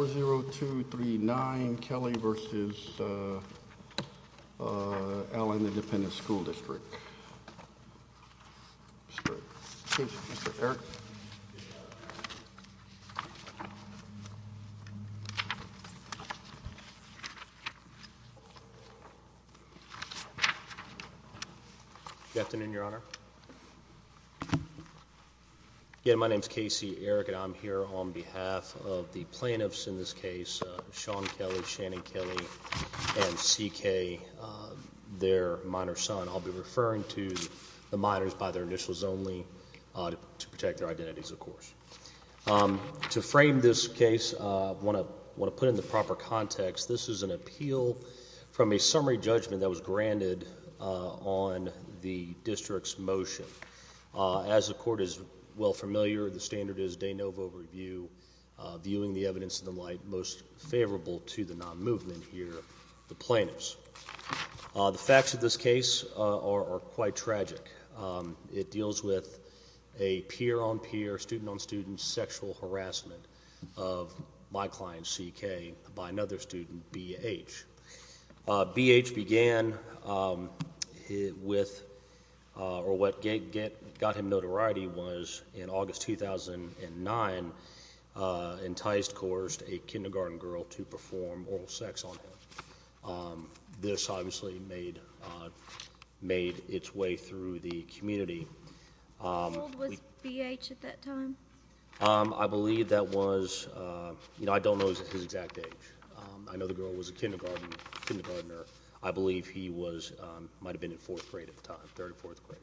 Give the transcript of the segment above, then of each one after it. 4-0-2-3-9 Kelly v. Allen Independent School District. Mr. Eric. Good afternoon, Your Honor. Again, my name is K.C. Eric, and I'm here on behalf of the plaintiffs in this case, Sean Kelly, Shannon Kelly, and C.K., their minor son. I'll be referring to the minors by their initials only to protect their identities, of course. To frame this case, I want to put it in the proper context. This is an appeal from a summary judgment that was granted on the district's motion. As the court is well familiar, the standard is de novo review, viewing the evidence in the light most favorable to the non-movement here, the plaintiffs. The facts of this case are quite tragic. It deals with a peer-on-peer, student-on-student sexual harassment of my client, C.K., by another student, B.H. B.H. began with, or what got him notoriety was in August 2009, enticed, coerced a kindergarten girl to perform oral sex on him. This obviously made its way through the community. How old was B.H. at that time? I believe that was, you know, I don't know his exact age. I know the girl was a kindergartner. I believe he was, might have been in fourth grade at the time, third or fourth grade.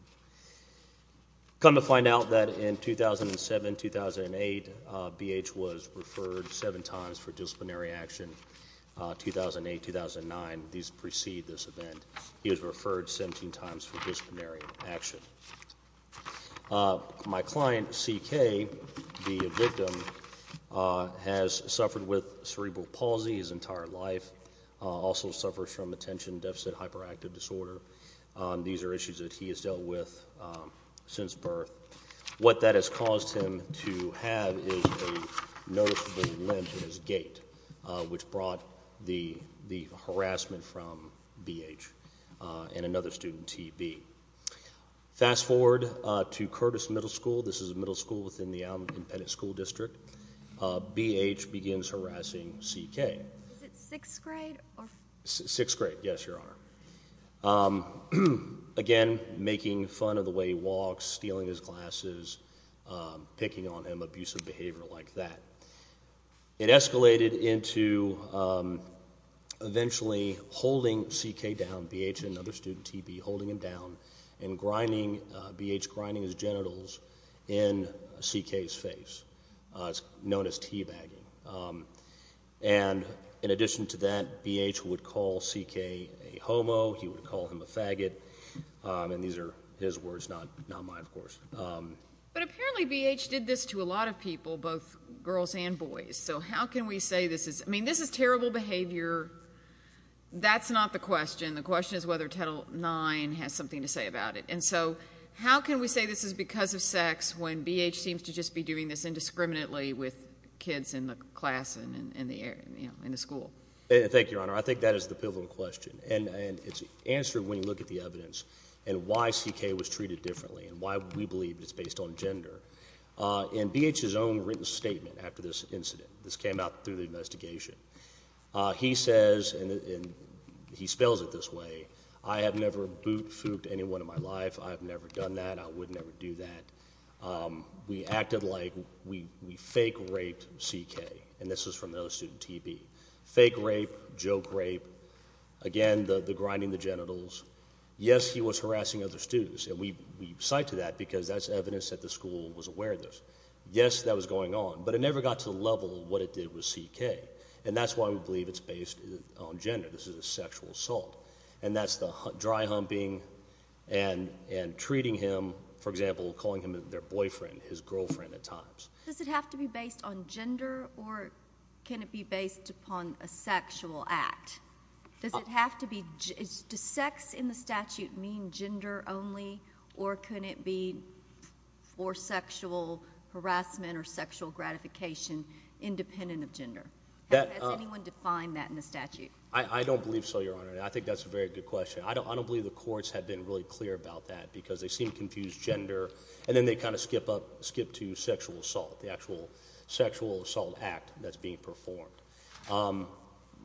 Come to find out that in 2007, 2008, B.H. was referred seven times for disciplinary action, 2008, 2009, these precede this event. He was referred 17 times for disciplinary action. My client, C.K., the victim, has suffered with cerebral palsy his entire life, also suffers from attention deficit hyperactive disorder. These are issues that he has dealt with since birth. What that has caused him to have is a noticeable limp in his gait, which brought the harassment from B.H. and another student, T.B. Fast forward to Curtis Middle School. This is a middle school within the Alameda Independent School District. B.H. begins harassing C.K. Is it sixth grade? Sixth grade, yes, Your Honor. Again, making fun of the way he walks, stealing his glasses, picking on him, abusive behavior like that. It escalated into eventually holding C.K. down. B.H. and another student, T.B., holding him down and grinding, B.H. grinding his genitals in C.K.'s face. It's known as teabagging. And in addition to that, B.H. would call C.K. a homo. He would call him a faggot. And these are his words, not mine, of course. But apparently B.H. did this to a lot of people, both girls and boys. So how can we say this is – I mean, this is terrible behavior. That's not the question. The question is whether Title IX has something to say about it. And so how can we say this is because of sex when B.H. seems to just be doing this indiscriminately with kids in the class and in the school? Thank you, Your Honor. I think that is the pivotal question. And it's answered when you look at the evidence and why C.K. was treated differently and why we believe it's based on gender. In B.H.'s own written statement after this incident, this came out through the investigation, he says, and he spells it this way, I have never boot-fooked anyone in my life. I have never done that. I would never do that. We acted like we fake-raped C.K. And this is from the other student, T.B. Fake rape, joke rape, again, the grinding the genitals. Yes, he was harassing other students, and we cite to that because that's evidence that the school was aware of this. Yes, that was going on. But it never got to the level of what it did with C.K., and that's why we believe it's based on gender. This is a sexual assault. And that's the dry-humping and treating him, for example, calling him their boyfriend, his girlfriend at times. Does it have to be based on gender, or can it be based upon a sexual act? Does it have to be? Does sex in the statute mean gender only, or can it be for sexual harassment or sexual gratification independent of gender? Has anyone defined that in the statute? I don't believe so, Your Honor. I think that's a very good question. I don't believe the courts have been really clear about that because they seem to confuse gender, and then they kind of skip to sexual assault, the actual sexual assault act that's being performed.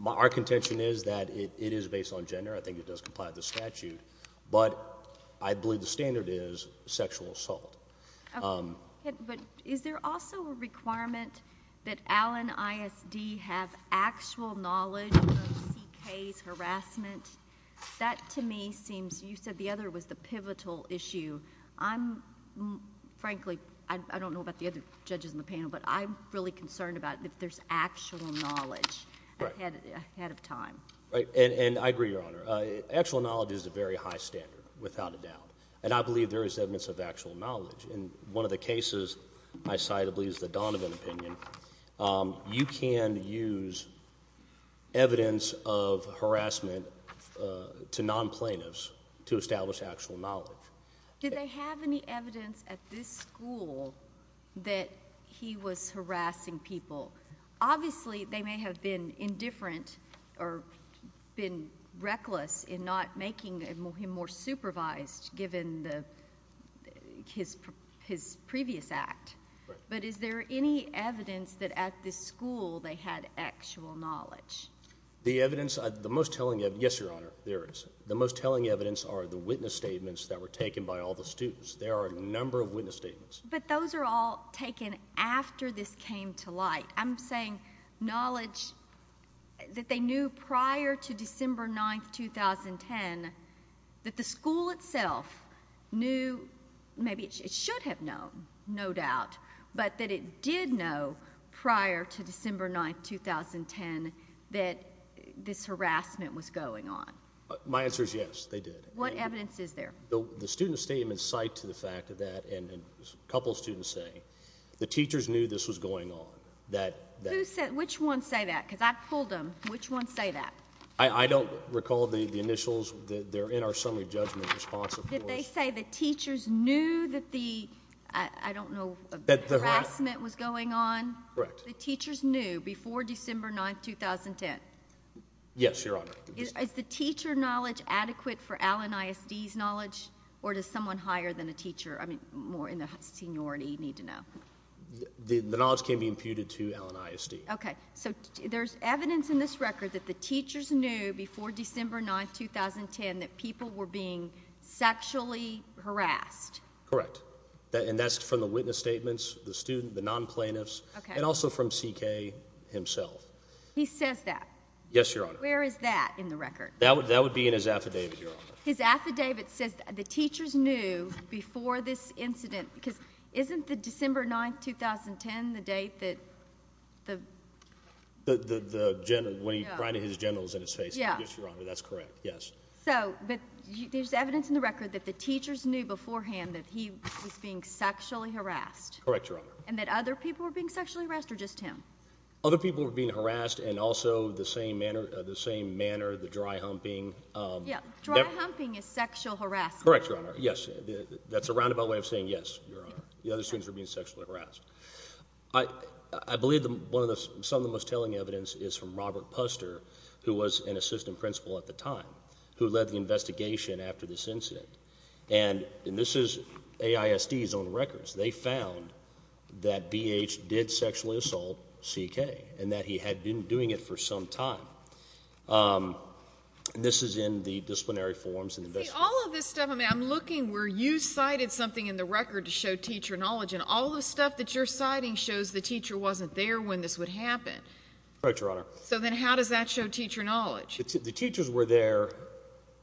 Our contention is that it is based on gender. I think it does comply with the statute. But I believe the standard is sexual assault. Okay. But is there also a requirement that Allen ISD have actual knowledge of C.K.'s harassment? That, to me, seems—you said the other was the pivotal issue. Frankly, I don't know about the other judges in the panel, but I'm really concerned about if there's actual knowledge ahead of time. Right. And I agree, Your Honor. Actual knowledge is a very high standard, without a doubt. And I believe there is evidence of actual knowledge. In one of the cases I cited, I believe it's the Donovan opinion, you can use evidence of harassment to non-plaintiffs to establish actual knowledge. Did they have any evidence at this school that he was harassing people? Obviously, they may have been indifferent or been reckless in not making him more supervised, given his previous act. Right. But is there any evidence that at this school they had actual knowledge? The evidence—the most telling evidence—yes, Your Honor, there is. The most telling evidence are the witness statements that were taken by all the students. There are a number of witness statements. But those are all taken after this came to light. I'm saying knowledge that they knew prior to December 9, 2010, that the school itself knew—maybe it should have known, no doubt— but that it did know prior to December 9, 2010, that this harassment was going on. My answer is yes, they did. What evidence is there? The student statements cite to the fact that—and a couple of students say—the teachers knew this was going on. Who said—which ones say that? Because I pulled them. Which ones say that? I don't recall the initials. They're in our summary judgment response. Did they say the teachers knew that the—I don't know—harassment was going on? Correct. The teachers knew before December 9, 2010? Yes, Your Honor. Is the teacher knowledge adequate for Allen ISD's knowledge, or does someone higher than a teacher, I mean more in the seniority, need to know? The knowledge can be imputed to Allen ISD. Okay. So there's evidence in this record that the teachers knew before December 9, 2010, that people were being sexually harassed? Correct. And that's from the witness statements, the student, the non-plaintiffs, and also from C.K. himself. He says that? Yes, Your Honor. Where is that in the record? That would be in his affidavit, Your Honor. His affidavit says the teachers knew before this incident. Because isn't the December 9, 2010 the date that the— When he's writing his genitals in his face. Yes, Your Honor. That's correct, yes. So there's evidence in the record that the teachers knew beforehand that he was being sexually harassed? Correct, Your Honor. And that other people were being sexually harassed, or just him? Other people were being harassed, and also the same manner, the dry humping. Yeah, dry humping is sexual harassment. Correct, Your Honor. Yes, that's a roundabout way of saying yes, Your Honor. The other students were being sexually harassed. I believe some of the most telling evidence is from Robert Puster, who was an assistant principal at the time, who led the investigation after this incident. And this is AISD's own records. They found that B.H. did sexually assault C.K., and that he had been doing it for some time. This is in the disciplinary forms. See, all of this stuff, I mean, I'm looking where you cited something in the record to show teacher knowledge, and all of the stuff that you're citing shows the teacher wasn't there when this would happen. Correct, Your Honor. So then how does that show teacher knowledge? The teachers were there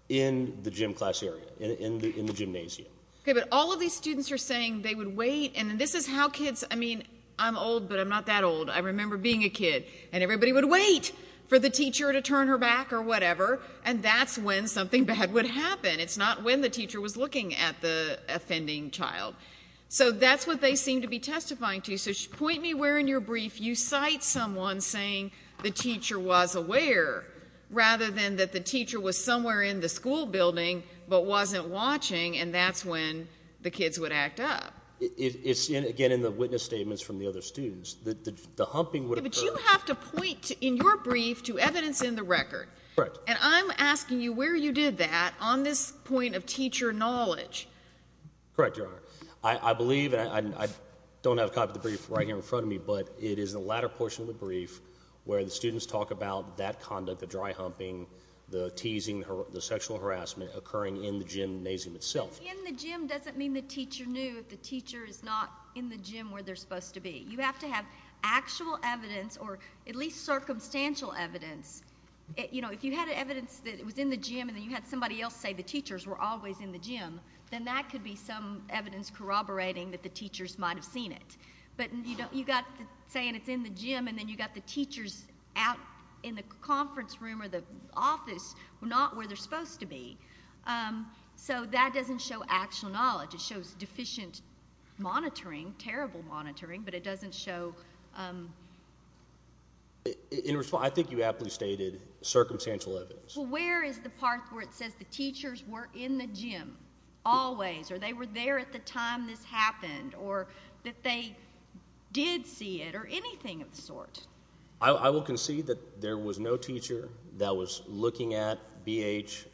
in the gym class area, in the gymnasium. Okay, but all of these students are saying they would wait, and this is how kids, I mean, I'm old, but I'm not that old. I remember being a kid, and everybody would wait for the teacher to turn her back or whatever, and that's when something bad would happen. It's not when the teacher was looking at the offending child. So that's what they seem to be testifying to. So point me where in your brief you cite someone saying the teacher was aware, rather than that the teacher was somewhere in the school building but wasn't watching, and that's when the kids would act up. Again, in the witness statements from the other students, the humping would occur. But you have to point in your brief to evidence in the record. Correct. And I'm asking you where you did that on this point of teacher knowledge. Correct, Your Honor. I believe, and I don't have a copy of the brief right here in front of me, but it is the latter portion of the brief where the students talk about that conduct, the dry humping, the teasing, the sexual harassment occurring in the gymnasium itself. In the gym doesn't mean the teacher knew. The teacher is not in the gym where they're supposed to be. You have to have actual evidence or at least circumstantial evidence. If you had evidence that it was in the gym and then you had somebody else say the teachers were always in the gym, then that could be some evidence corroborating that the teachers might have seen it. But you got saying it's in the gym and then you got the teachers out in the conference room or the office, not where they're supposed to be. So that doesn't show actual knowledge. It shows deficient monitoring, terrible monitoring, but it doesn't show. In response, I think you aptly stated circumstantial evidence. Well, where is the part where it says the teachers were in the gym always or they were there at the time this happened or that they did see it or anything of the sort? I will concede that there was no teacher that was looking at BH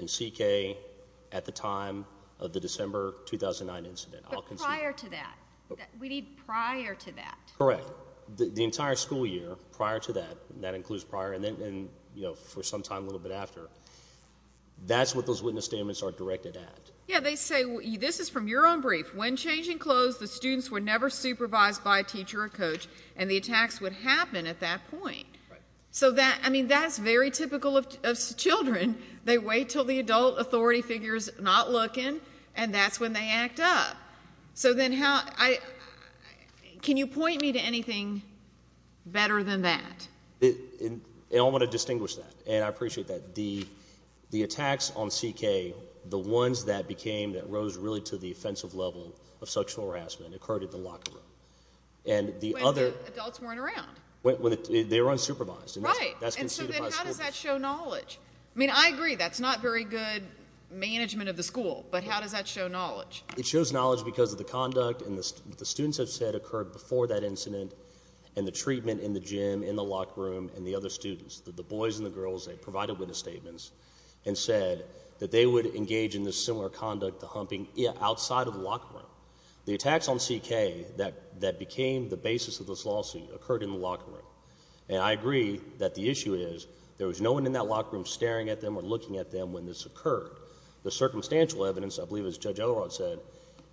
and CK at the time of the December 2009 incident. But prior to that, we need prior to that. Correct. The entire school year prior to that, and that includes prior and for some time a little bit after, that's what those witness statements are directed at. Yeah, they say this is from your own brief. When changing clothes, the students were never supervised by a teacher or coach, and the attacks would happen at that point. So that's very typical of children. They wait until the adult authority figure is not looking, and that's when they act up. So then can you point me to anything better than that? I want to distinguish that, and I appreciate that. The attacks on CK, the ones that rose really to the offensive level of sexual harassment occurred at the locker room. When the adults weren't around. They were unsupervised. Right. And so then how does that show knowledge? I mean, I agree that's not very good management of the school, but how does that show knowledge? It shows knowledge because of the conduct and what the students have said occurred before that incident and the treatment in the gym, in the locker room, and the other students, the boys and the girls that provided witness statements, and said that they would engage in this similar conduct, the humping, outside of the locker room. The attacks on CK that became the basis of this lawsuit occurred in the locker room, and I agree that the issue is there was no one in that locker room staring at them or looking at them when this occurred. The circumstantial evidence, I believe as Judge Elrod said,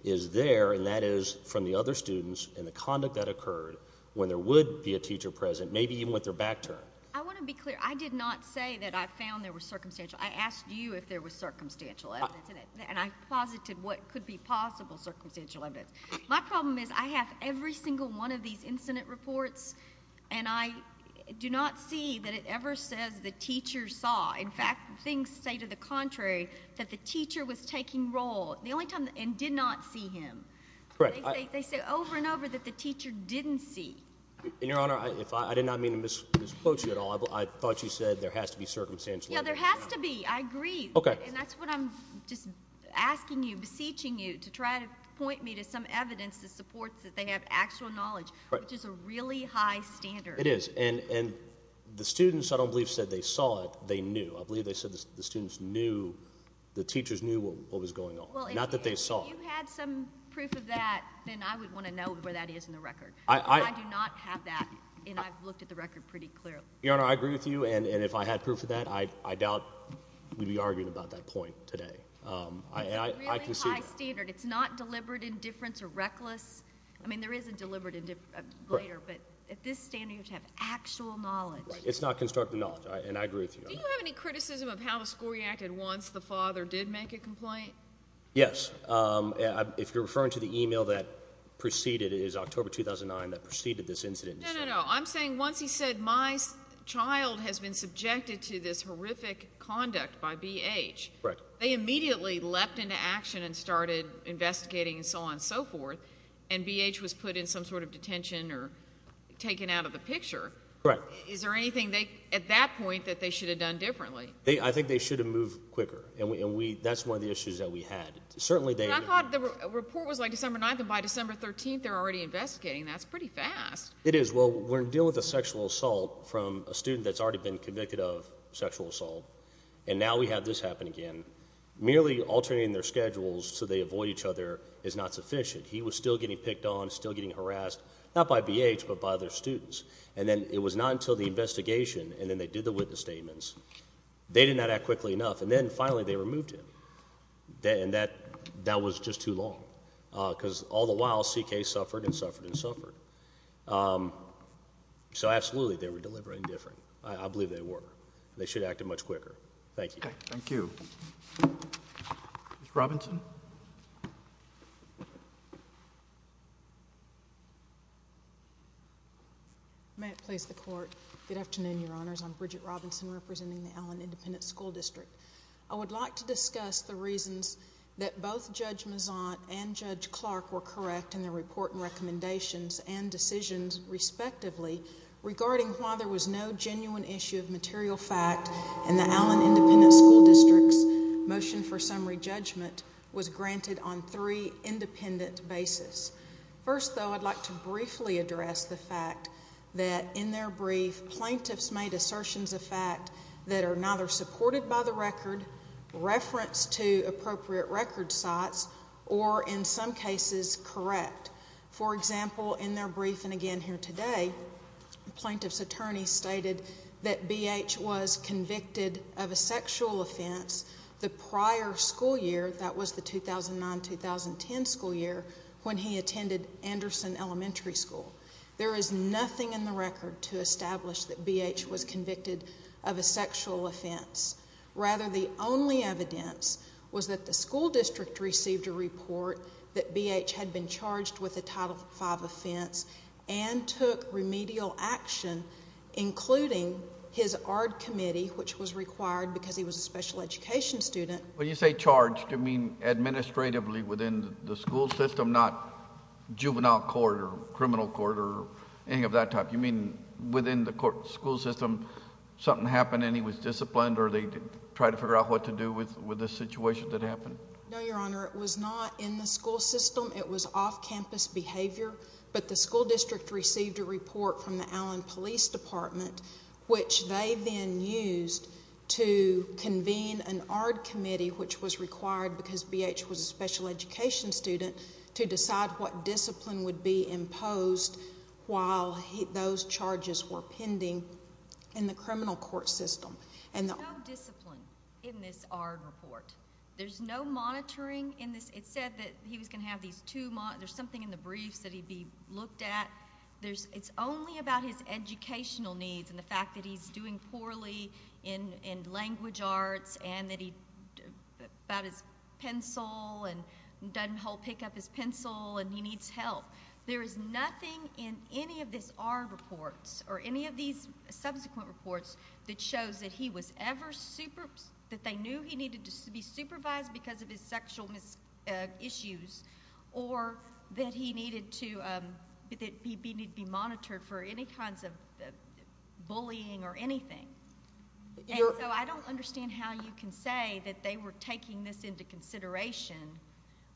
is there, and that is from the other students and the conduct that occurred when there would be a teacher present, maybe even with their back turned. I want to be clear. I did not say that I found there was circumstantial. I asked you if there was circumstantial evidence, and I posited what could be possible circumstantial evidence. My problem is I have every single one of these incident reports, and I do not see that it ever says the teacher saw. In fact, things say to the contrary, that the teacher was taking roll, and did not see him. They say over and over that the teacher didn't see. Your Honor, I did not mean to misquote you at all. I thought you said there has to be circumstantial evidence. Yes, there has to be. I agree, and that's what I'm just asking you, beseeching you, to try to point me to some evidence that supports that they have actual knowledge, which is a really high standard. It is, and the students, I don't believe, said they saw it. They knew. I believe they said the students knew, the teachers knew what was going on, not that they saw. If you had some proof of that, then I would want to know where that is in the record. I do not have that, and I've looked at the record pretty clearly. Your Honor, I agree with you, and if I had proof of that, I doubt we'd be arguing about that point today. It's a really high standard. It's not deliberate indifference or reckless. I mean, there is a deliberate indifference later, but at this standard, you have to have actual knowledge. It's not constructive knowledge, and I agree with you. Do you have any criticism of how the school reacted once the father did make a complaint? Yes. If you're referring to the email that preceded it, it was October 2009 that preceded this incident. No, no, no. I'm saying once he said my child has been subjected to this horrific conduct by BH, they immediately leapt into action and started investigating and so on and so forth, and BH was put in some sort of detention or taken out of the picture. Correct. Is there anything at that point that they should have done differently? I think they should have moved quicker, and that's one of the issues that we had. I thought the report was like December 9th, and by December 13th, they're already investigating. That's pretty fast. It is. Well, we're dealing with a sexual assault from a student that's already been convicted of sexual assault, and now we have this happen again. Merely alternating their schedules so they avoid each other is not sufficient. He was still getting picked on, still getting harassed, not by BH but by other students, and then it was not until the investigation, and then they did the witness statements, they did not act quickly enough, and then finally they removed him, and that was just too long because all the while CK suffered and suffered and suffered. So absolutely, they were delivering different. I believe they were. They should have acted much quicker. Thank you. Thank you. May it please the Court, good afternoon, Your Honors. I'm Bridget Robinson representing the Allen Independent School District. I would like to discuss the reasons that both Judge Mazant and Judge Clark were correct in their report and recommendations and decisions, respectively, regarding why there was no genuine issue of material fact and the Allen Independent School District's motion for summary judgment was granted on three independent basis. First, though, I'd like to briefly address the fact that in their brief, plaintiffs made assertions of fact that are neither supported by the record, referenced to appropriate record sites, or in some cases, correct. For example, in their brief, and again here today, plaintiff's attorney stated that BH was convicted of a sexual offense the prior school year, that was the 2009-2010 school year, when he attended Anderson Elementary School. There is nothing in the record to establish that BH was convicted of a sexual offense. Rather, the only evidence was that the school district received a report that BH had been charged with a Title V offense and took remedial action, including his ARD committee, which was required because he was a special education student. When you say charged, you mean administratively within the school system, not juvenile court or criminal court or any of that type? You mean within the school system something happened and he was disciplined or they tried to figure out what to do with the situation that happened? No, Your Honor. It was not in the school system. It was off-campus behavior, but the school district received a report from the Allen Police Department, which they then used to convene an ARD committee, which was required because BH was a special education student, to decide what discipline would be imposed while those charges were pending in the criminal court system. There's no discipline in this ARD report. There's no monitoring in this. It said that he was going to have these two months. There's something in the briefs that he'd be looked at. It's only about his educational needs and the fact that he's doing poorly in language arts and about his pencil and doesn't whole pick up his pencil and he needs help. There is nothing in any of these ARD reports or any of these subsequent reports that shows that they knew he needed to be supervised because of his sexual issues or that he needed to be monitored for any kinds of bullying or anything. I don't understand how you can say that they were taking this into consideration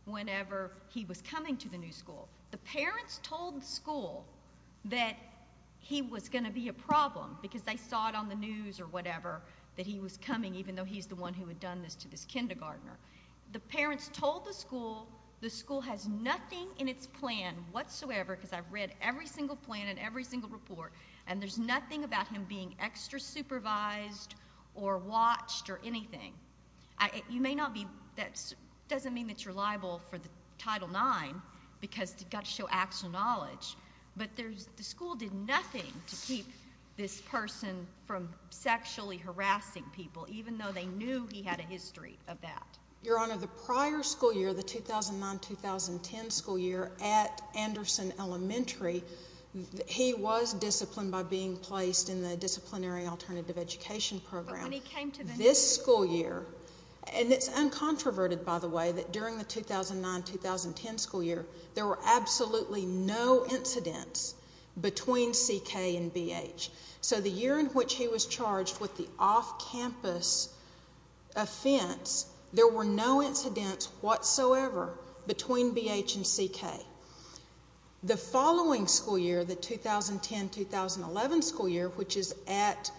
whenever he was coming to the new school. The parents told the school that he was going to be a problem because they saw it on the news or whatever that he was coming, even though he's the one who had done this to this kindergartner. The parents told the school the school has nothing in its plan whatsoever because I've read every single plan and every single report, and there's nothing about him being extra supervised or watched or anything. That doesn't mean that you're liable for the Title IX because you've got to show actual knowledge, but the school did nothing to keep this person from sexually harassing people even though they knew he had a history of that. Your Honor, the prior school year, the 2009-2010 school year at Anderson Elementary, he was disciplined by being placed in the disciplinary alternative education program. But when he came to the new school year... This school year, and it's uncontroverted, by the way, that during the 2009-2010 school year there were absolutely no incidents between CK and BH. So the year in which he was charged with the off-campus offense, there were no incidents whatsoever between BH and CK. The following school year, the 2010-2011 school year, which is at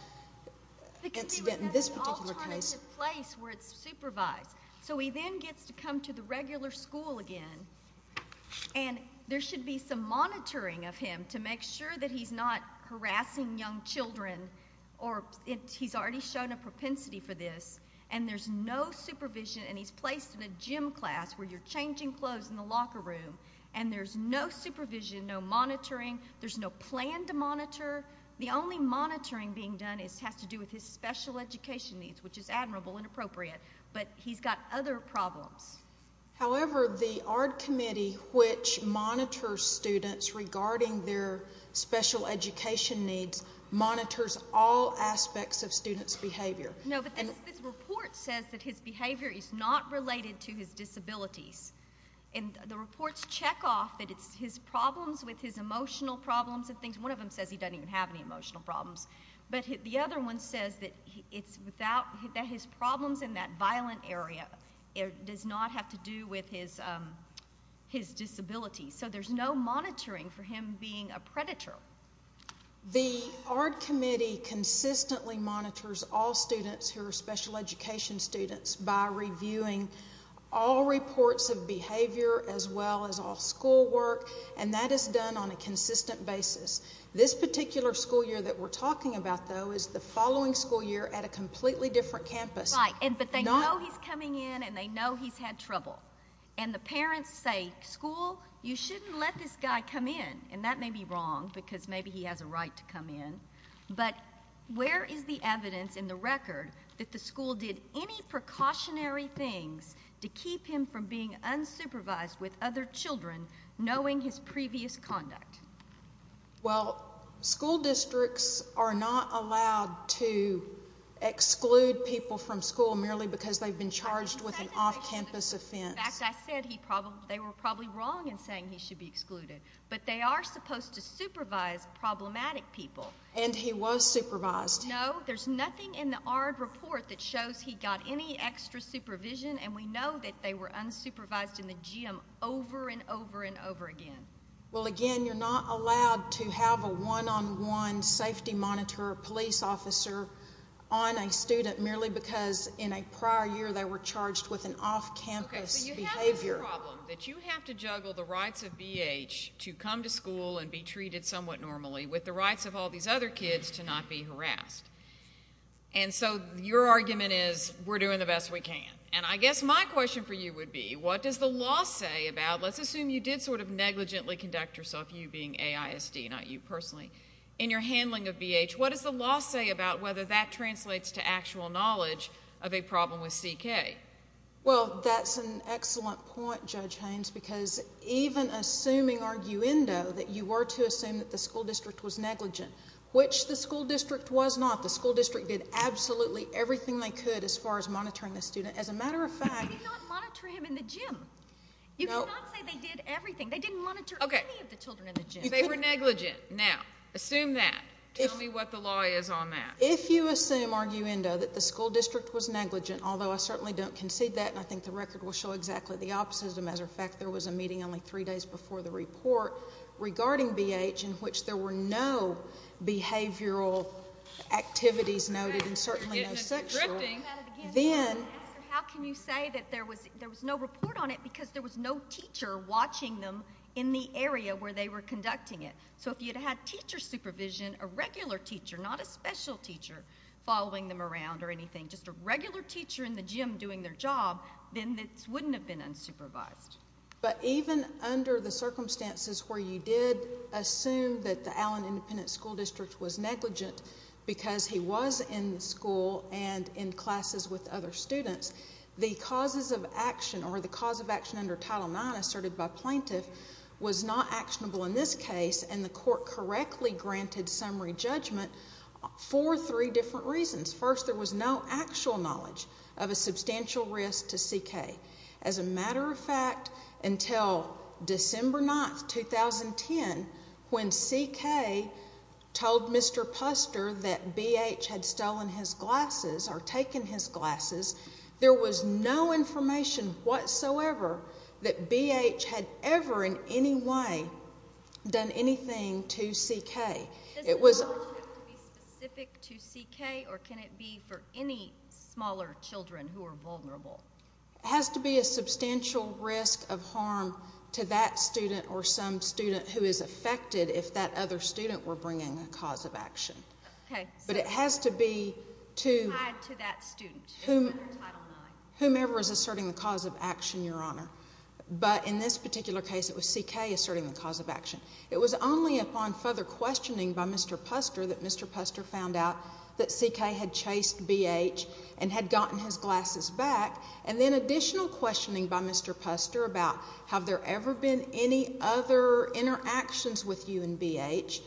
incident in this particular case... Because he was at an alternative place where it's supervised. So he then gets to come to the regular school again, and there should be some monitoring of him to make sure that he's not harassing young children or he's already shown a propensity for this, and there's no supervision, and he's placed in a gym class where you're changing clothes in the locker room, and there's no supervision, no monitoring, there's no plan to monitor. The only monitoring being done has to do with his special education needs, which is admirable and appropriate, but he's got other problems. However, the ARD Committee, which monitors students regarding their special education needs, monitors all aspects of students' behavior. No, but this report says that his behavior is not related to his disabilities, and the reports check off that it's his problems with his emotional problems and things. One of them says he doesn't even have any emotional problems, but the other one says that his problems in that violent area does not have to do with his disabilities. So there's no monitoring for him being a predator. The ARD Committee consistently monitors all students who are special education students by reviewing all reports of behavior as well as all school work, and that is done on a consistent basis. This particular school year that we're talking about, though, is the following school year at a completely different campus. Right, but they know he's coming in and they know he's had trouble, and the parents say, school, you shouldn't let this guy come in, and that may be wrong because maybe he has a right to come in, but where is the evidence in the record that the school did any precautionary things to keep him from being unsupervised with other children knowing his previous conduct? Well, school districts are not allowed to exclude people from school merely because they've been charged with an off-campus offense. In fact, I said they were probably wrong in saying he should be excluded, but they are supposed to supervise problematic people. And he was supervised. No, there's nothing in the ARD report that shows he got any extra supervision, and we know that they were unsupervised in the gym over and over and over again. Well, again, you're not allowed to have a one-on-one safety monitor police officer on a student merely because in a prior year they were charged with an off-campus behavior. There's a problem that you have to juggle the rights of BH to come to school and be treated somewhat normally with the rights of all these other kids to not be harassed. And so your argument is we're doing the best we can. And I guess my question for you would be, what does the law say about, let's assume you did sort of negligently conduct yourself, you being AISD, not you personally, in your handling of BH, what does the law say about whether that translates to actual knowledge of a problem with CK? Well, that's an excellent point, Judge Haynes, because even assuming arguendo that you were to assume that the school district was negligent, which the school district was not. The school district did absolutely everything they could as far as monitoring the student. As a matter of fact— But they did not monitor him in the gym. You cannot say they did everything. They didn't monitor any of the children in the gym. They were negligent. Now, assume that. Tell me what the law is on that. If you assume, arguendo, that the school district was negligent, although I certainly don't concede that, and I think the record will show exactly the opposite. As a matter of fact, there was a meeting only three days before the report regarding BH in which there were no behavioral activities noted and certainly no sexual. Then— How can you say that there was no report on it because there was no teacher watching them in the area where they were conducting it? So if you'd had teacher supervision, a regular teacher, not a special teacher following them around or anything, just a regular teacher in the gym doing their job, then this wouldn't have been unsupervised. But even under the circumstances where you did assume that the Allen Independent School District was negligent because he was in the school and in classes with other students, the causes of action or the cause of action under Title IX asserted by plaintiff was not actionable in this case, and the court correctly granted summary judgment for three different reasons. First, there was no actual knowledge of a substantial risk to CK. As a matter of fact, until December 9, 2010, when CK told Mr. Puster that BH had stolen his glasses or taken his glasses, there was no information whatsoever that BH had ever in any way done anything to CK. Does the scholarship have to be specific to CK, or can it be for any smaller children who are vulnerable? It has to be a substantial risk of harm to that student or some student who is affected if that other student were bringing a cause of action. Okay. But it has to be to— Whomever is asserting the cause of action, Your Honor. But in this particular case, it was CK asserting the cause of action. It was only upon further questioning by Mr. Puster that Mr. Puster found out that CK had chased BH and had gotten his glasses back, and then additional questioning by Mr. Puster about have there ever been any other interactions with you and BH,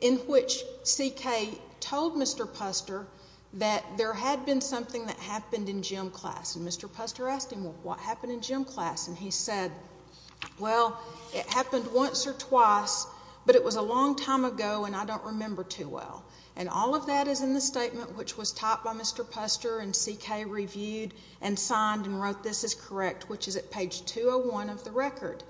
in which CK told Mr. Puster that there had been something that happened in gym class. And Mr. Puster asked him, What happened in gym class? And he said, Well, it happened once or twice, but it was a long time ago, and I don't remember too well. And all of that is in the statement, which was typed by Mr. Puster, and CK reviewed and signed and wrote this is correct, which is at page 201 of the record.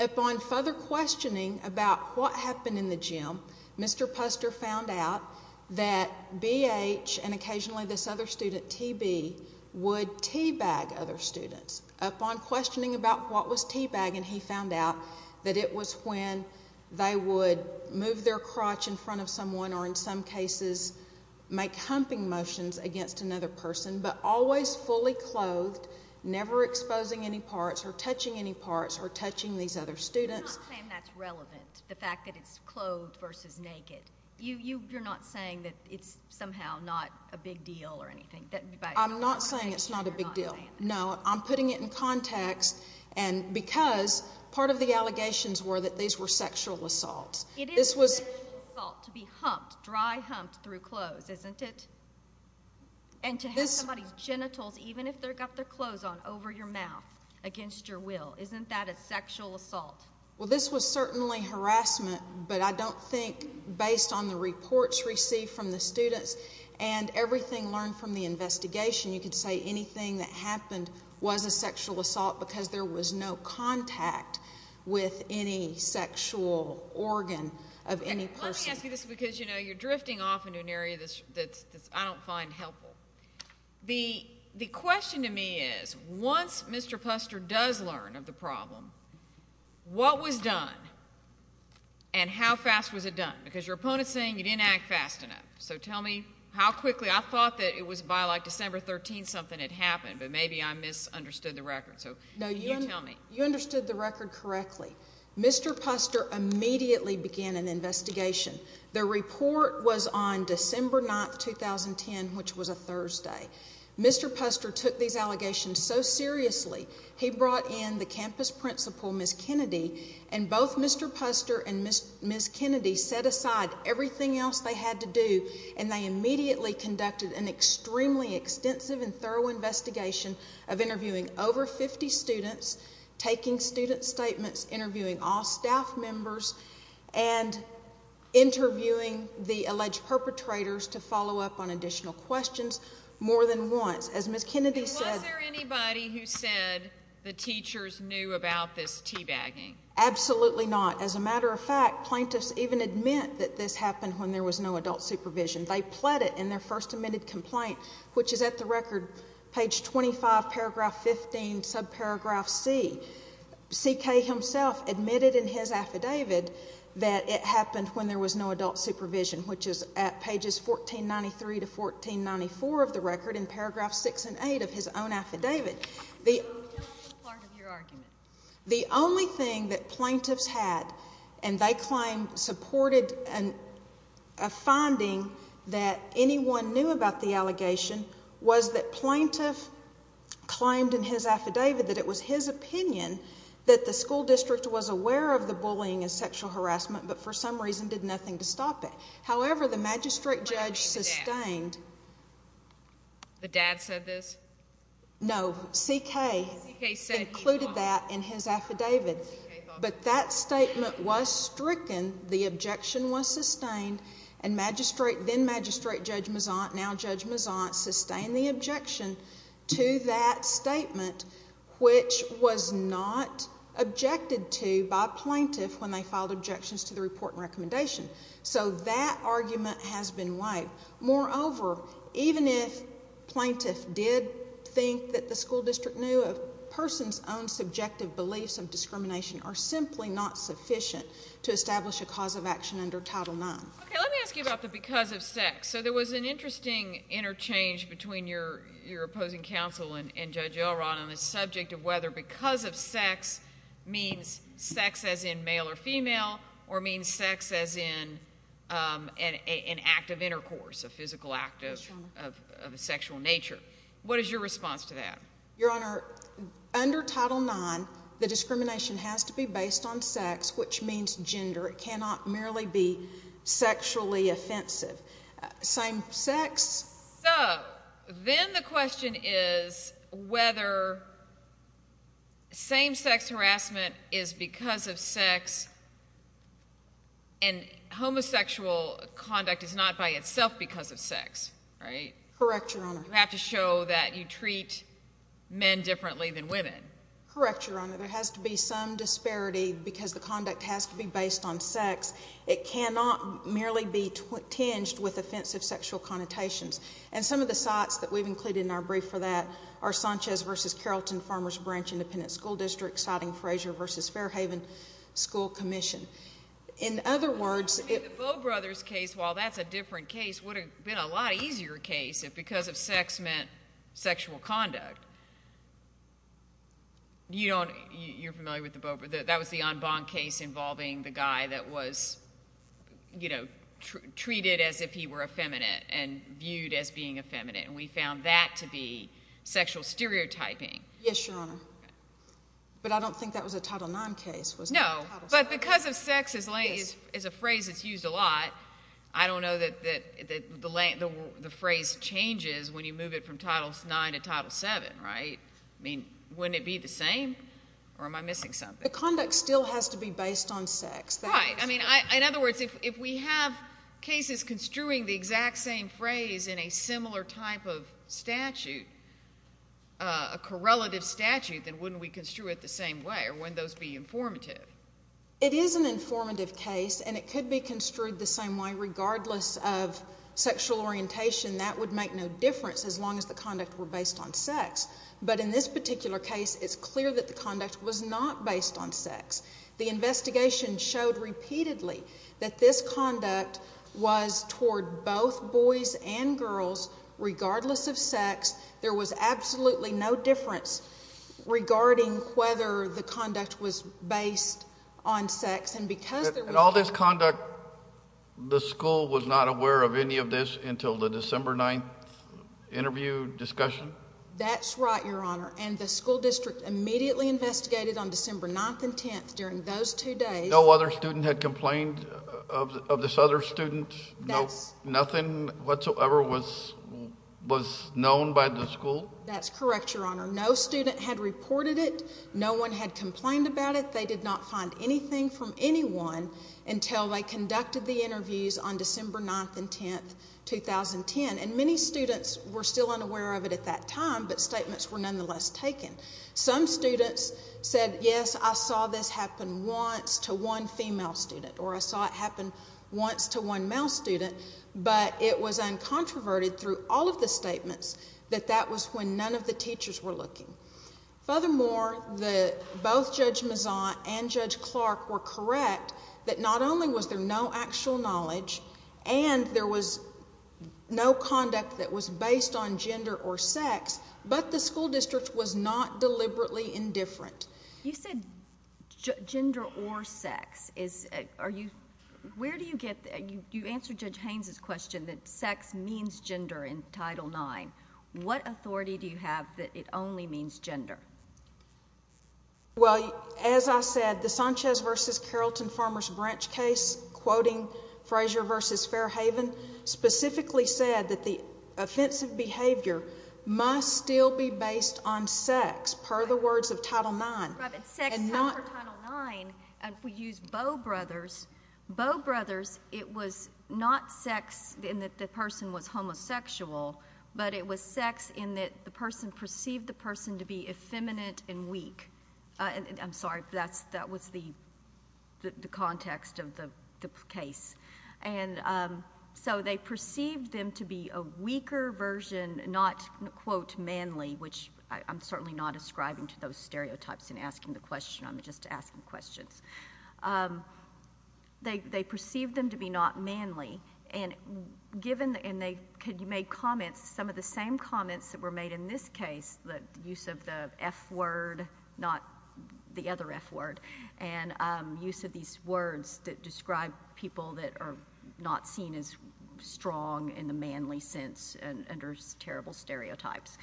Upon further questioning about what happened in the gym, Mr. Puster found out that BH and occasionally this other student, TB, would teabag other students. Upon questioning about what was teabagging, he found out that it was when they would move their crotch in front of someone or in some cases make humping motions against another person, but always fully clothed, never exposing any parts or touching any parts or touching these other students. You're not saying that's relevant, the fact that it's clothed versus naked. You're not saying that it's somehow not a big deal or anything. I'm not saying it's not a big deal. No, I'm putting it in context, because part of the allegations were that these were sexual assaults. It is a sexual assault to be humped, dry humped through clothes, isn't it? And to have somebody's genitals, even if they've got their clothes on, over your mouth against your will. Isn't that a sexual assault? Well, this was certainly harassment, but I don't think based on the reports received from the students and everything learned from the investigation, you could say anything that happened was a sexual assault because there was no contact with any sexual organ of any person. Well, let me ask you this, because, you know, you're drifting off into an area that I don't find helpful. The question to me is, once Mr. Puster does learn of the problem, what was done and how fast was it done? Because your opponent's saying you didn't act fast enough, so tell me how quickly. I thought that it was by, like, December 13th something had happened, but maybe I misunderstood the record, so you tell me. No, you understood the record correctly. Mr. Puster immediately began an investigation. The report was on December 9th, 2010, which was a Thursday. Mr. Puster took these allegations so seriously, he brought in the campus principal, Ms. Kennedy, and both Mr. Puster and Ms. Kennedy set aside everything else they had to do, and they immediately conducted an extremely extensive and thorough investigation of interviewing over 50 students, taking student statements, interviewing all staff members, and interviewing the alleged perpetrators to follow up on additional questions more than once. As Ms. Kennedy said— Was there anybody who said the teachers knew about this teabagging? Absolutely not. As a matter of fact, plaintiffs even admit that this happened when there was no adult supervision. They pled it in their first admitted complaint, which is at the record, page 25, paragraph 15, subparagraph C. C.K. himself admitted in his affidavit that it happened when there was no adult supervision, which is at pages 1493 to 1494 of the record in paragraph 6 and 8 of his own affidavit. The only thing that plaintiffs had, and they claim supported a finding that anyone knew about the allegation, was that plaintiff claimed in his affidavit that it was his opinion that the school district was aware of the bullying and sexual harassment but for some reason did nothing to stop it. However, the magistrate judge sustained— The dad said this? No, C.K. included that in his affidavit. But that statement was stricken, the objection was sustained, and then-Magistrate Judge Mezant, now Judge Mezant, sustained the objection to that statement, which was not objected to by plaintiff when they filed objections to the report and recommendation. So that argument has been waived. Moreover, even if plaintiff did think that the school district knew the person's own subjective beliefs of discrimination are simply not sufficient to establish a cause of action under Title IX. Okay, let me ask you about the because of sex. So there was an interesting interchange between your opposing counsel and Judge Elrod on the subject of whether because of sex means sex as in male or female or means sex as in an act of intercourse, a physical act of a sexual nature. What is your response to that? Your Honor, under Title IX, the discrimination has to be based on sex, which means gender. It cannot merely be sexually offensive. Same sex? So then the question is whether same-sex harassment is because of sex and homosexual conduct is not by itself because of sex, right? Correct, Your Honor. You have to show that you treat men differently than women. Correct, Your Honor. There has to be some disparity because the conduct has to be based on sex. It cannot merely be tinged with offensive sexual connotations. And some of the sites that we've included in our brief for that are Sanchez v. Carrollton Farmers Branch Independent School District, citing Frazier v. Fairhaven School Commission. In other words, it— The Bowe brothers case, while that's a different case, would have been a lot easier case if because of sex meant sexual conduct. You're familiar with the Bowe brothers. That was the en banc case involving the guy that was treated as if he were effeminate and viewed as being effeminate, and we found that to be sexual stereotyping. Yes, Your Honor. But I don't think that was a Title IX case. No, but because of sex is a phrase that's used a lot. I don't know that the phrase changes when you move it from Title IX to Title VII, right? I mean, wouldn't it be the same, or am I missing something? The conduct still has to be based on sex. Right. I mean, in other words, if we have cases construing the exact same phrase in a similar type of statute, a correlative statute, then wouldn't we construe it the same way, or wouldn't those be informative? It is an informative case, and it could be construed the same way regardless of sexual orientation. That would make no difference as long as the conduct were based on sex. But in this particular case, it's clear that the conduct was not based on sex. The investigation showed repeatedly that this conduct was toward both boys and girls regardless of sex. There was absolutely no difference regarding whether the conduct was based on sex. And because there was— And all this conduct, the school was not aware of any of this until the December 9th interview discussion? That's right, Your Honor. And the school district immediately investigated on December 9th and 10th during those two days. No other student had complained of this other student? No. Nothing whatsoever was known by the school? That's correct, Your Honor. No student had reported it. No one had complained about it. They did not find anything from anyone until they conducted the interviews on December 9th and 10th, 2010. And many students were still unaware of it at that time, but statements were nonetheless taken. Some students said, yes, I saw this happen once to one female student, or I saw it happen once to one male student, but it was uncontroverted through all of the statements that that was when none of the teachers were looking. Furthermore, both Judge Mezant and Judge Clark were correct that not only was there no actual knowledge and there was no conduct that was based on gender or sex, but the school district was not deliberately indifferent. You said gender or sex. Where do you get that? You answered Judge Haynes' question that sex means gender in Title IX. What authority do you have that it only means gender? Well, as I said, the Sanchez v. Carrollton Farmers Branch case, quoting Frazier v. Fairhaven, specifically said that the offensive behavior must still be based on sex, per the words of Title IX. Sex, per Title IX, and if we use Bow Brothers, Bow Brothers, it was not sex in that the person was homosexual, but it was sex in that the person perceived the person to be effeminate and weak. I'm sorry, that was the context of the case. So they perceived them to be a weaker version, not, quote, manly, which I'm certainly not ascribing to those stereotypes and asking the question. I'm just asking questions. They perceived them to be not manly, and they made comments, some of the same comments that were made in this case, the use of the F word, not the other F word, and use of these words that describe people that are not seen as strong in the manly sense under terrible stereotypes.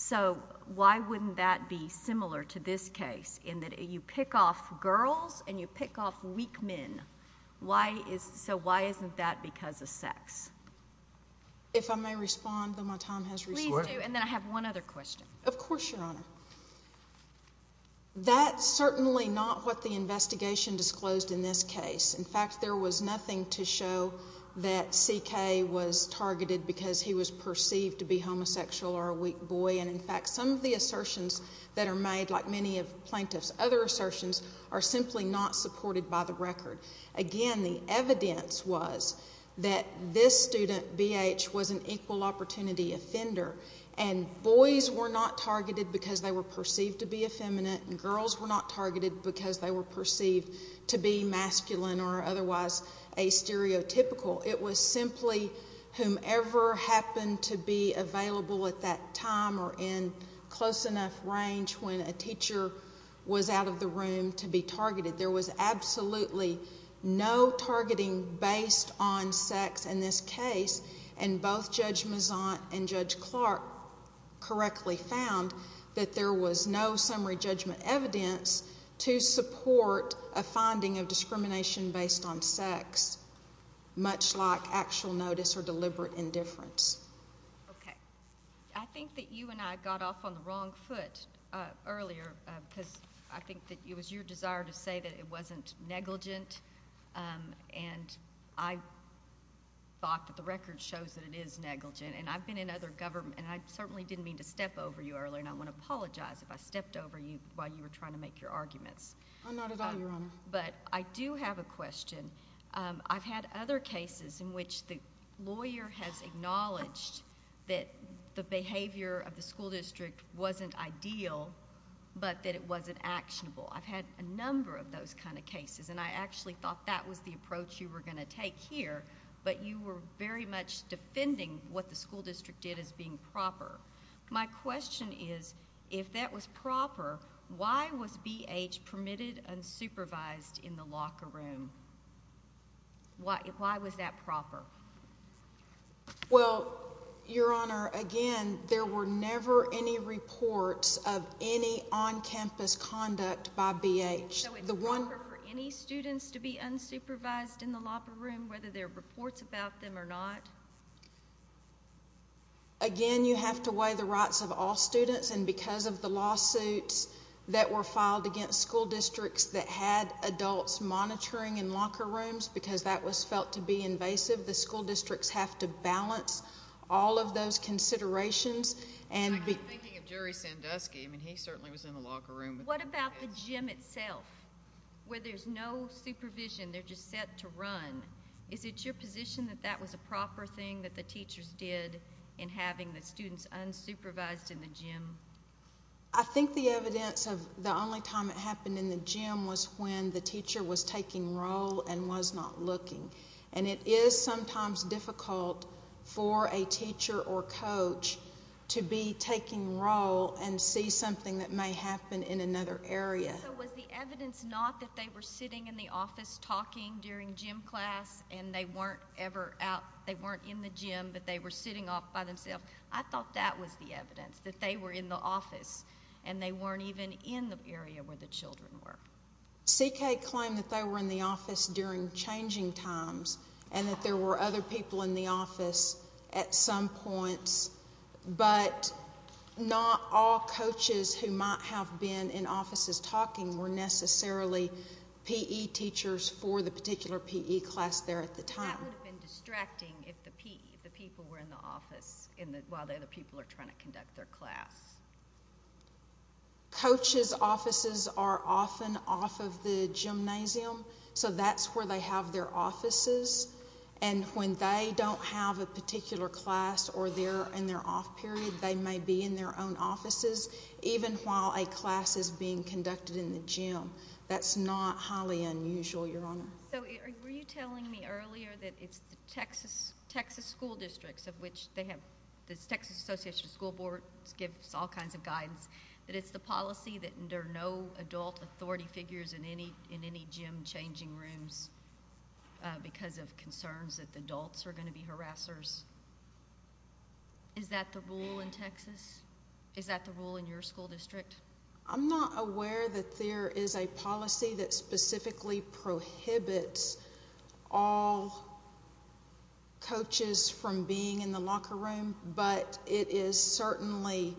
So why wouldn't that be similar to this case in that you pick off girls and you pick off weak men? So why isn't that because of sex? If I may respond, though my time has expired. Please do, and then I have one other question. Of course, Your Honor. That's certainly not what the investigation disclosed in this case. In fact, there was nothing to show that C.K. was targeted because he was perceived to be homosexual or a weak boy, and, in fact, some of the assertions that are made, like many of the plaintiff's other assertions, are simply not supported by the record. Again, the evidence was that this student, B.H., was an equal opportunity offender, and boys were not targeted because they were perceived to be effeminate, and girls were not targeted because they were perceived to be masculine or otherwise a stereotypical. It was simply whomever happened to be available at that time or in close enough range when a teacher was out of the room to be targeted. There was absolutely no targeting based on sex in this case, and both Judge Mazant and Judge Clark correctly found that there was no summary judgment evidence to support a finding of discrimination based on sex, much like actual notice or deliberate indifference. Okay. I think that you and I got off on the wrong foot earlier because I think that it was your desire to say that it wasn't negligent, and I thought that the record shows that it is negligent, and I've been in other government, and I certainly didn't mean to step over you earlier, and I want to apologize if I stepped over you while you were trying to make your arguments. Not at all, Your Honor. But I do have a question. I've had other cases in which the lawyer has acknowledged that the behavior of the school district wasn't ideal, but that it wasn't actionable. I've had a number of those kind of cases, and I actually thought that was the approach you were going to take here, but you were very much defending what the school district did as being proper. My question is, if that was proper, why was BH permitted unsupervised in the locker room? Why was that proper? Well, Your Honor, again, there were never any reports of any on-campus conduct by BH. So it's proper for any students to be unsupervised in the locker room, whether there are reports about them or not? Again, you have to weigh the rights of all students, and because of the lawsuits that were filed against school districts that had adults monitoring in locker rooms because that was felt to be invasive, the school districts have to balance all of those considerations. I'm thinking of Jerry Sandusky. I mean, he certainly was in the locker room. What about the gym itself, where there's no supervision? They're just set to run. Is it your position that that was a proper thing that the teachers did in having the students unsupervised in the gym? I think the evidence of the only time it happened in the gym was when the teacher was taking roll and was not looking. And it is sometimes difficult for a teacher or coach to be taking roll and see something that may happen in another area. So was the evidence not that they were sitting in the office talking during gym class and they weren't in the gym, but they were sitting off by themselves? I thought that was the evidence, that they were in the office and they weren't even in the area where the children were. CK claimed that they were in the office during changing times and that there were other people in the office at some points, but not all coaches who might have been in offices talking were necessarily PE teachers for the particular PE class there at the time. That would have been distracting if the people were in the office while the other people are trying to conduct their class. Coaches' offices are often off of the gymnasium, so that's where they have their offices. And when they don't have a particular class or they're in their off period, they may be in their own offices, even while a class is being conducted in the gym. That's not highly unusual, Your Honor. So were you telling me earlier that it's the Texas school districts, of which they have this Texas Association of School Boards gives all kinds of guidance, that it's the policy that there are no adult authority figures in any gym changing rooms because of concerns that the adults are going to be harassers? Is that the rule in Texas? Is that the rule in your school district? I'm not aware that there is a policy that specifically prohibits all coaches from being in the locker room, but it is certainly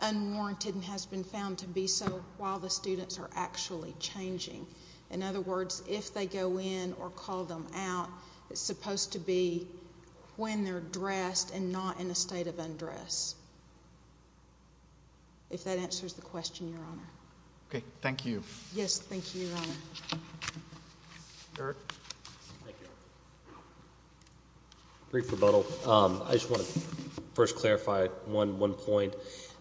unwarranted and has been found to be so while the students are actually changing. In other words, if they go in or call them out, it's supposed to be when they're dressed and not in a state of undress, if that answers the question, Your Honor. Okay, thank you. Yes, thank you, Your Honor. Eric? Brief rebuttal. I just want to first clarify one point.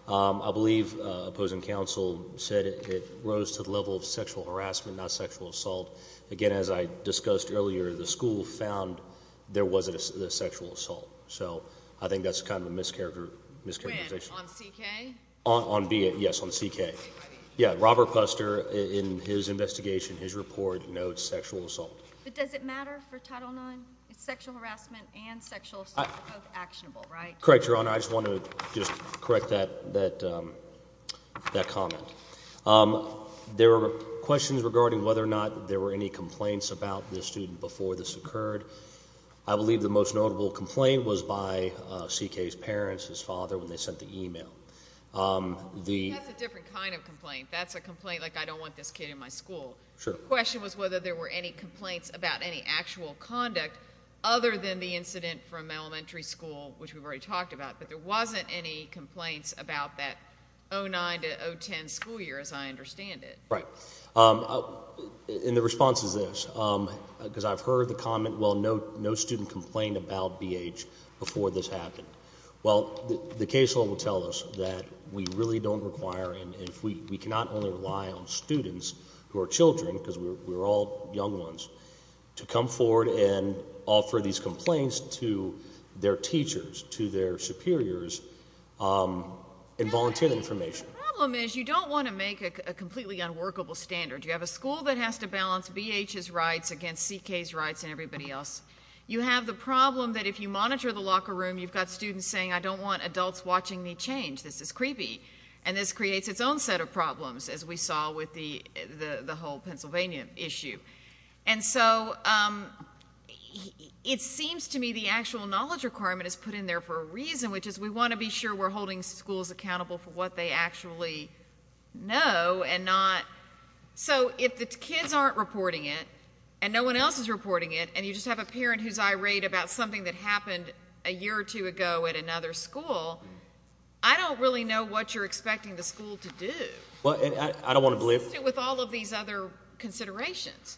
I believe opposing counsel said it rose to the level of sexual harassment, not sexual assault. Again, as I discussed earlier, the school found there wasn't a sexual assault. So I think that's kind of a mischaracterization. On CK? Yes, on CK. Robert Puster, in his investigation, his report notes sexual assault. But does it matter for Title IX? Sexual harassment and sexual assault are both actionable, right? Correct, Your Honor. I just want to just correct that comment. There were questions regarding whether or not there were any complaints about this student before this occurred. I believe the most notable complaint was by CK's parents, his father, when they sent the email. That's a different kind of complaint. That's a complaint like I don't want this kid in my school. The question was whether there were any complaints about any actual conduct other than the incident from elementary school, which we've already talked about. But there wasn't any complaints about that 09 to 010 school year, as I understand it. Right. And the response is this, because I've heard the comment, well, no student complained about BH before this happened. Well, the case law will tell us that we really don't require and we cannot only rely on students who are children, because we're all young ones, to come forward and offer these complaints to their teachers, to their superiors and volunteer information. The problem is you don't want to make a completely unworkable standard. You have a school that has to balance BH's rights against CK's rights and everybody else. You have the problem that if you monitor the locker room, you've got students saying I don't want adults watching me change. This is creepy. And this creates its own set of problems, as we saw with the whole Pennsylvania issue. And so it seems to me the actual knowledge requirement is put in there for a reason, which is we want to be sure we're holding schools accountable for what they actually know and not. So if the kids aren't reporting it and no one else is reporting it and you just have a parent who's irate about something that happened a year or two ago at another school, I don't really know what you're expecting the school to do. Consistent with all of these other considerations.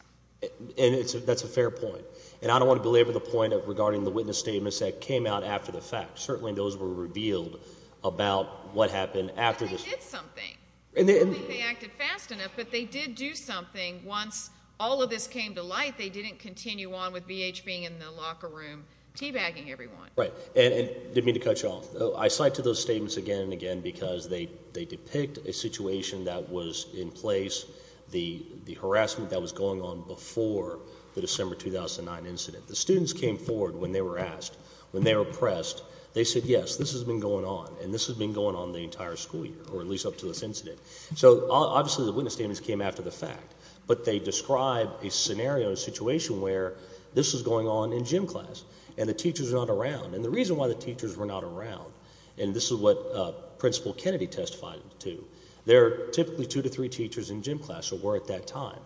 And that's a fair point. And I don't want to belabor the point regarding the witness statements that came out after the fact. Certainly those were revealed about what happened after this. But they did something. I don't think they acted fast enough, but they did do something. Once all of this came to light, they didn't continue on with BH being in the locker room teabagging everyone. Right, and didn't mean to cut you off. I cite to those statements again and again because they depict a situation that was in place, the harassment that was going on before the December 2009 incident. The students came forward when they were asked, when they were pressed. They said, yes, this has been going on, and this has been going on the entire school year, or at least up to this incident. So obviously the witness statements came after the fact. But they describe a scenario, a situation where this was going on in gym class and the teachers were not around. And the reason why the teachers were not around, and this is what Principal Kennedy testified to, there are typically two to three teachers in gym class who were at that time.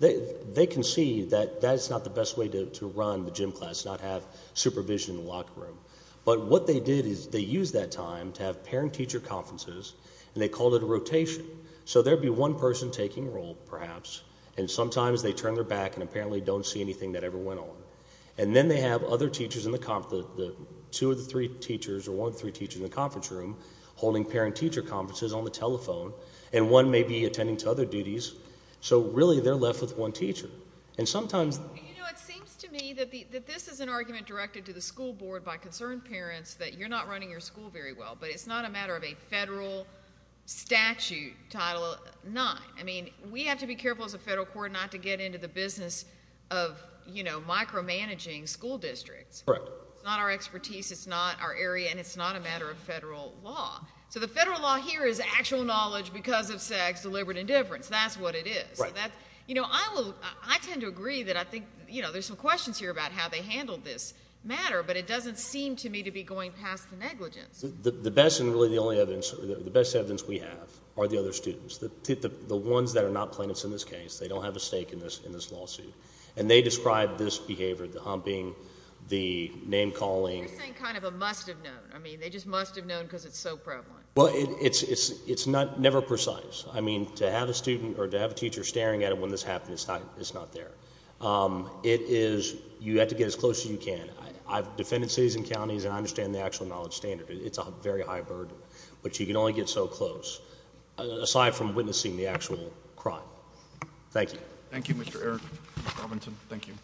They can see that that's not the best way to run the gym class, not have supervision in the locker room. But what they did is they used that time to have parent-teacher conferences, and they called it a rotation. So there would be one person taking a role, perhaps, and sometimes they turn their back and apparently don't see anything that ever went on. And then they have other teachers in the conference, two of the three teachers or one of the three teachers in the conference room, holding parent-teacher conferences on the telephone, and one may be attending to other duties. So really they're left with one teacher. It seems to me that this is an argument directed to the school board by concerned parents that you're not running your school very well, but it's not a matter of a federal statute Title IX. I mean, we have to be careful as a federal court not to get into the business of, you know, micromanaging school districts. Correct. It's not our expertise. It's not our area, and it's not a matter of federal law. So the federal law here is actual knowledge because of SAG's deliberate indifference. That's what it is. Right. You know, I tend to agree that I think, you know, there's some questions here about how they handled this matter, but it doesn't seem to me to be going past the negligence. The best and really the only evidence, the best evidence we have are the other students. The ones that are not plaintiffs in this case, they don't have a stake in this lawsuit, and they described this behavior, the humping, the name-calling. You're saying kind of a must-have known. I mean, they just must have known because it's so prevalent. Well, it's never precise. I mean, to have a student or to have a teacher staring at it when this happens, it's not there. It is you have to get as close as you can. I've defended cities and counties, and I understand the actual knowledge standard. It's a very high burden. But you can only get so close aside from witnessing the actual crime. Thank you. Thank you, Mr. Eric Robinson. Thank you.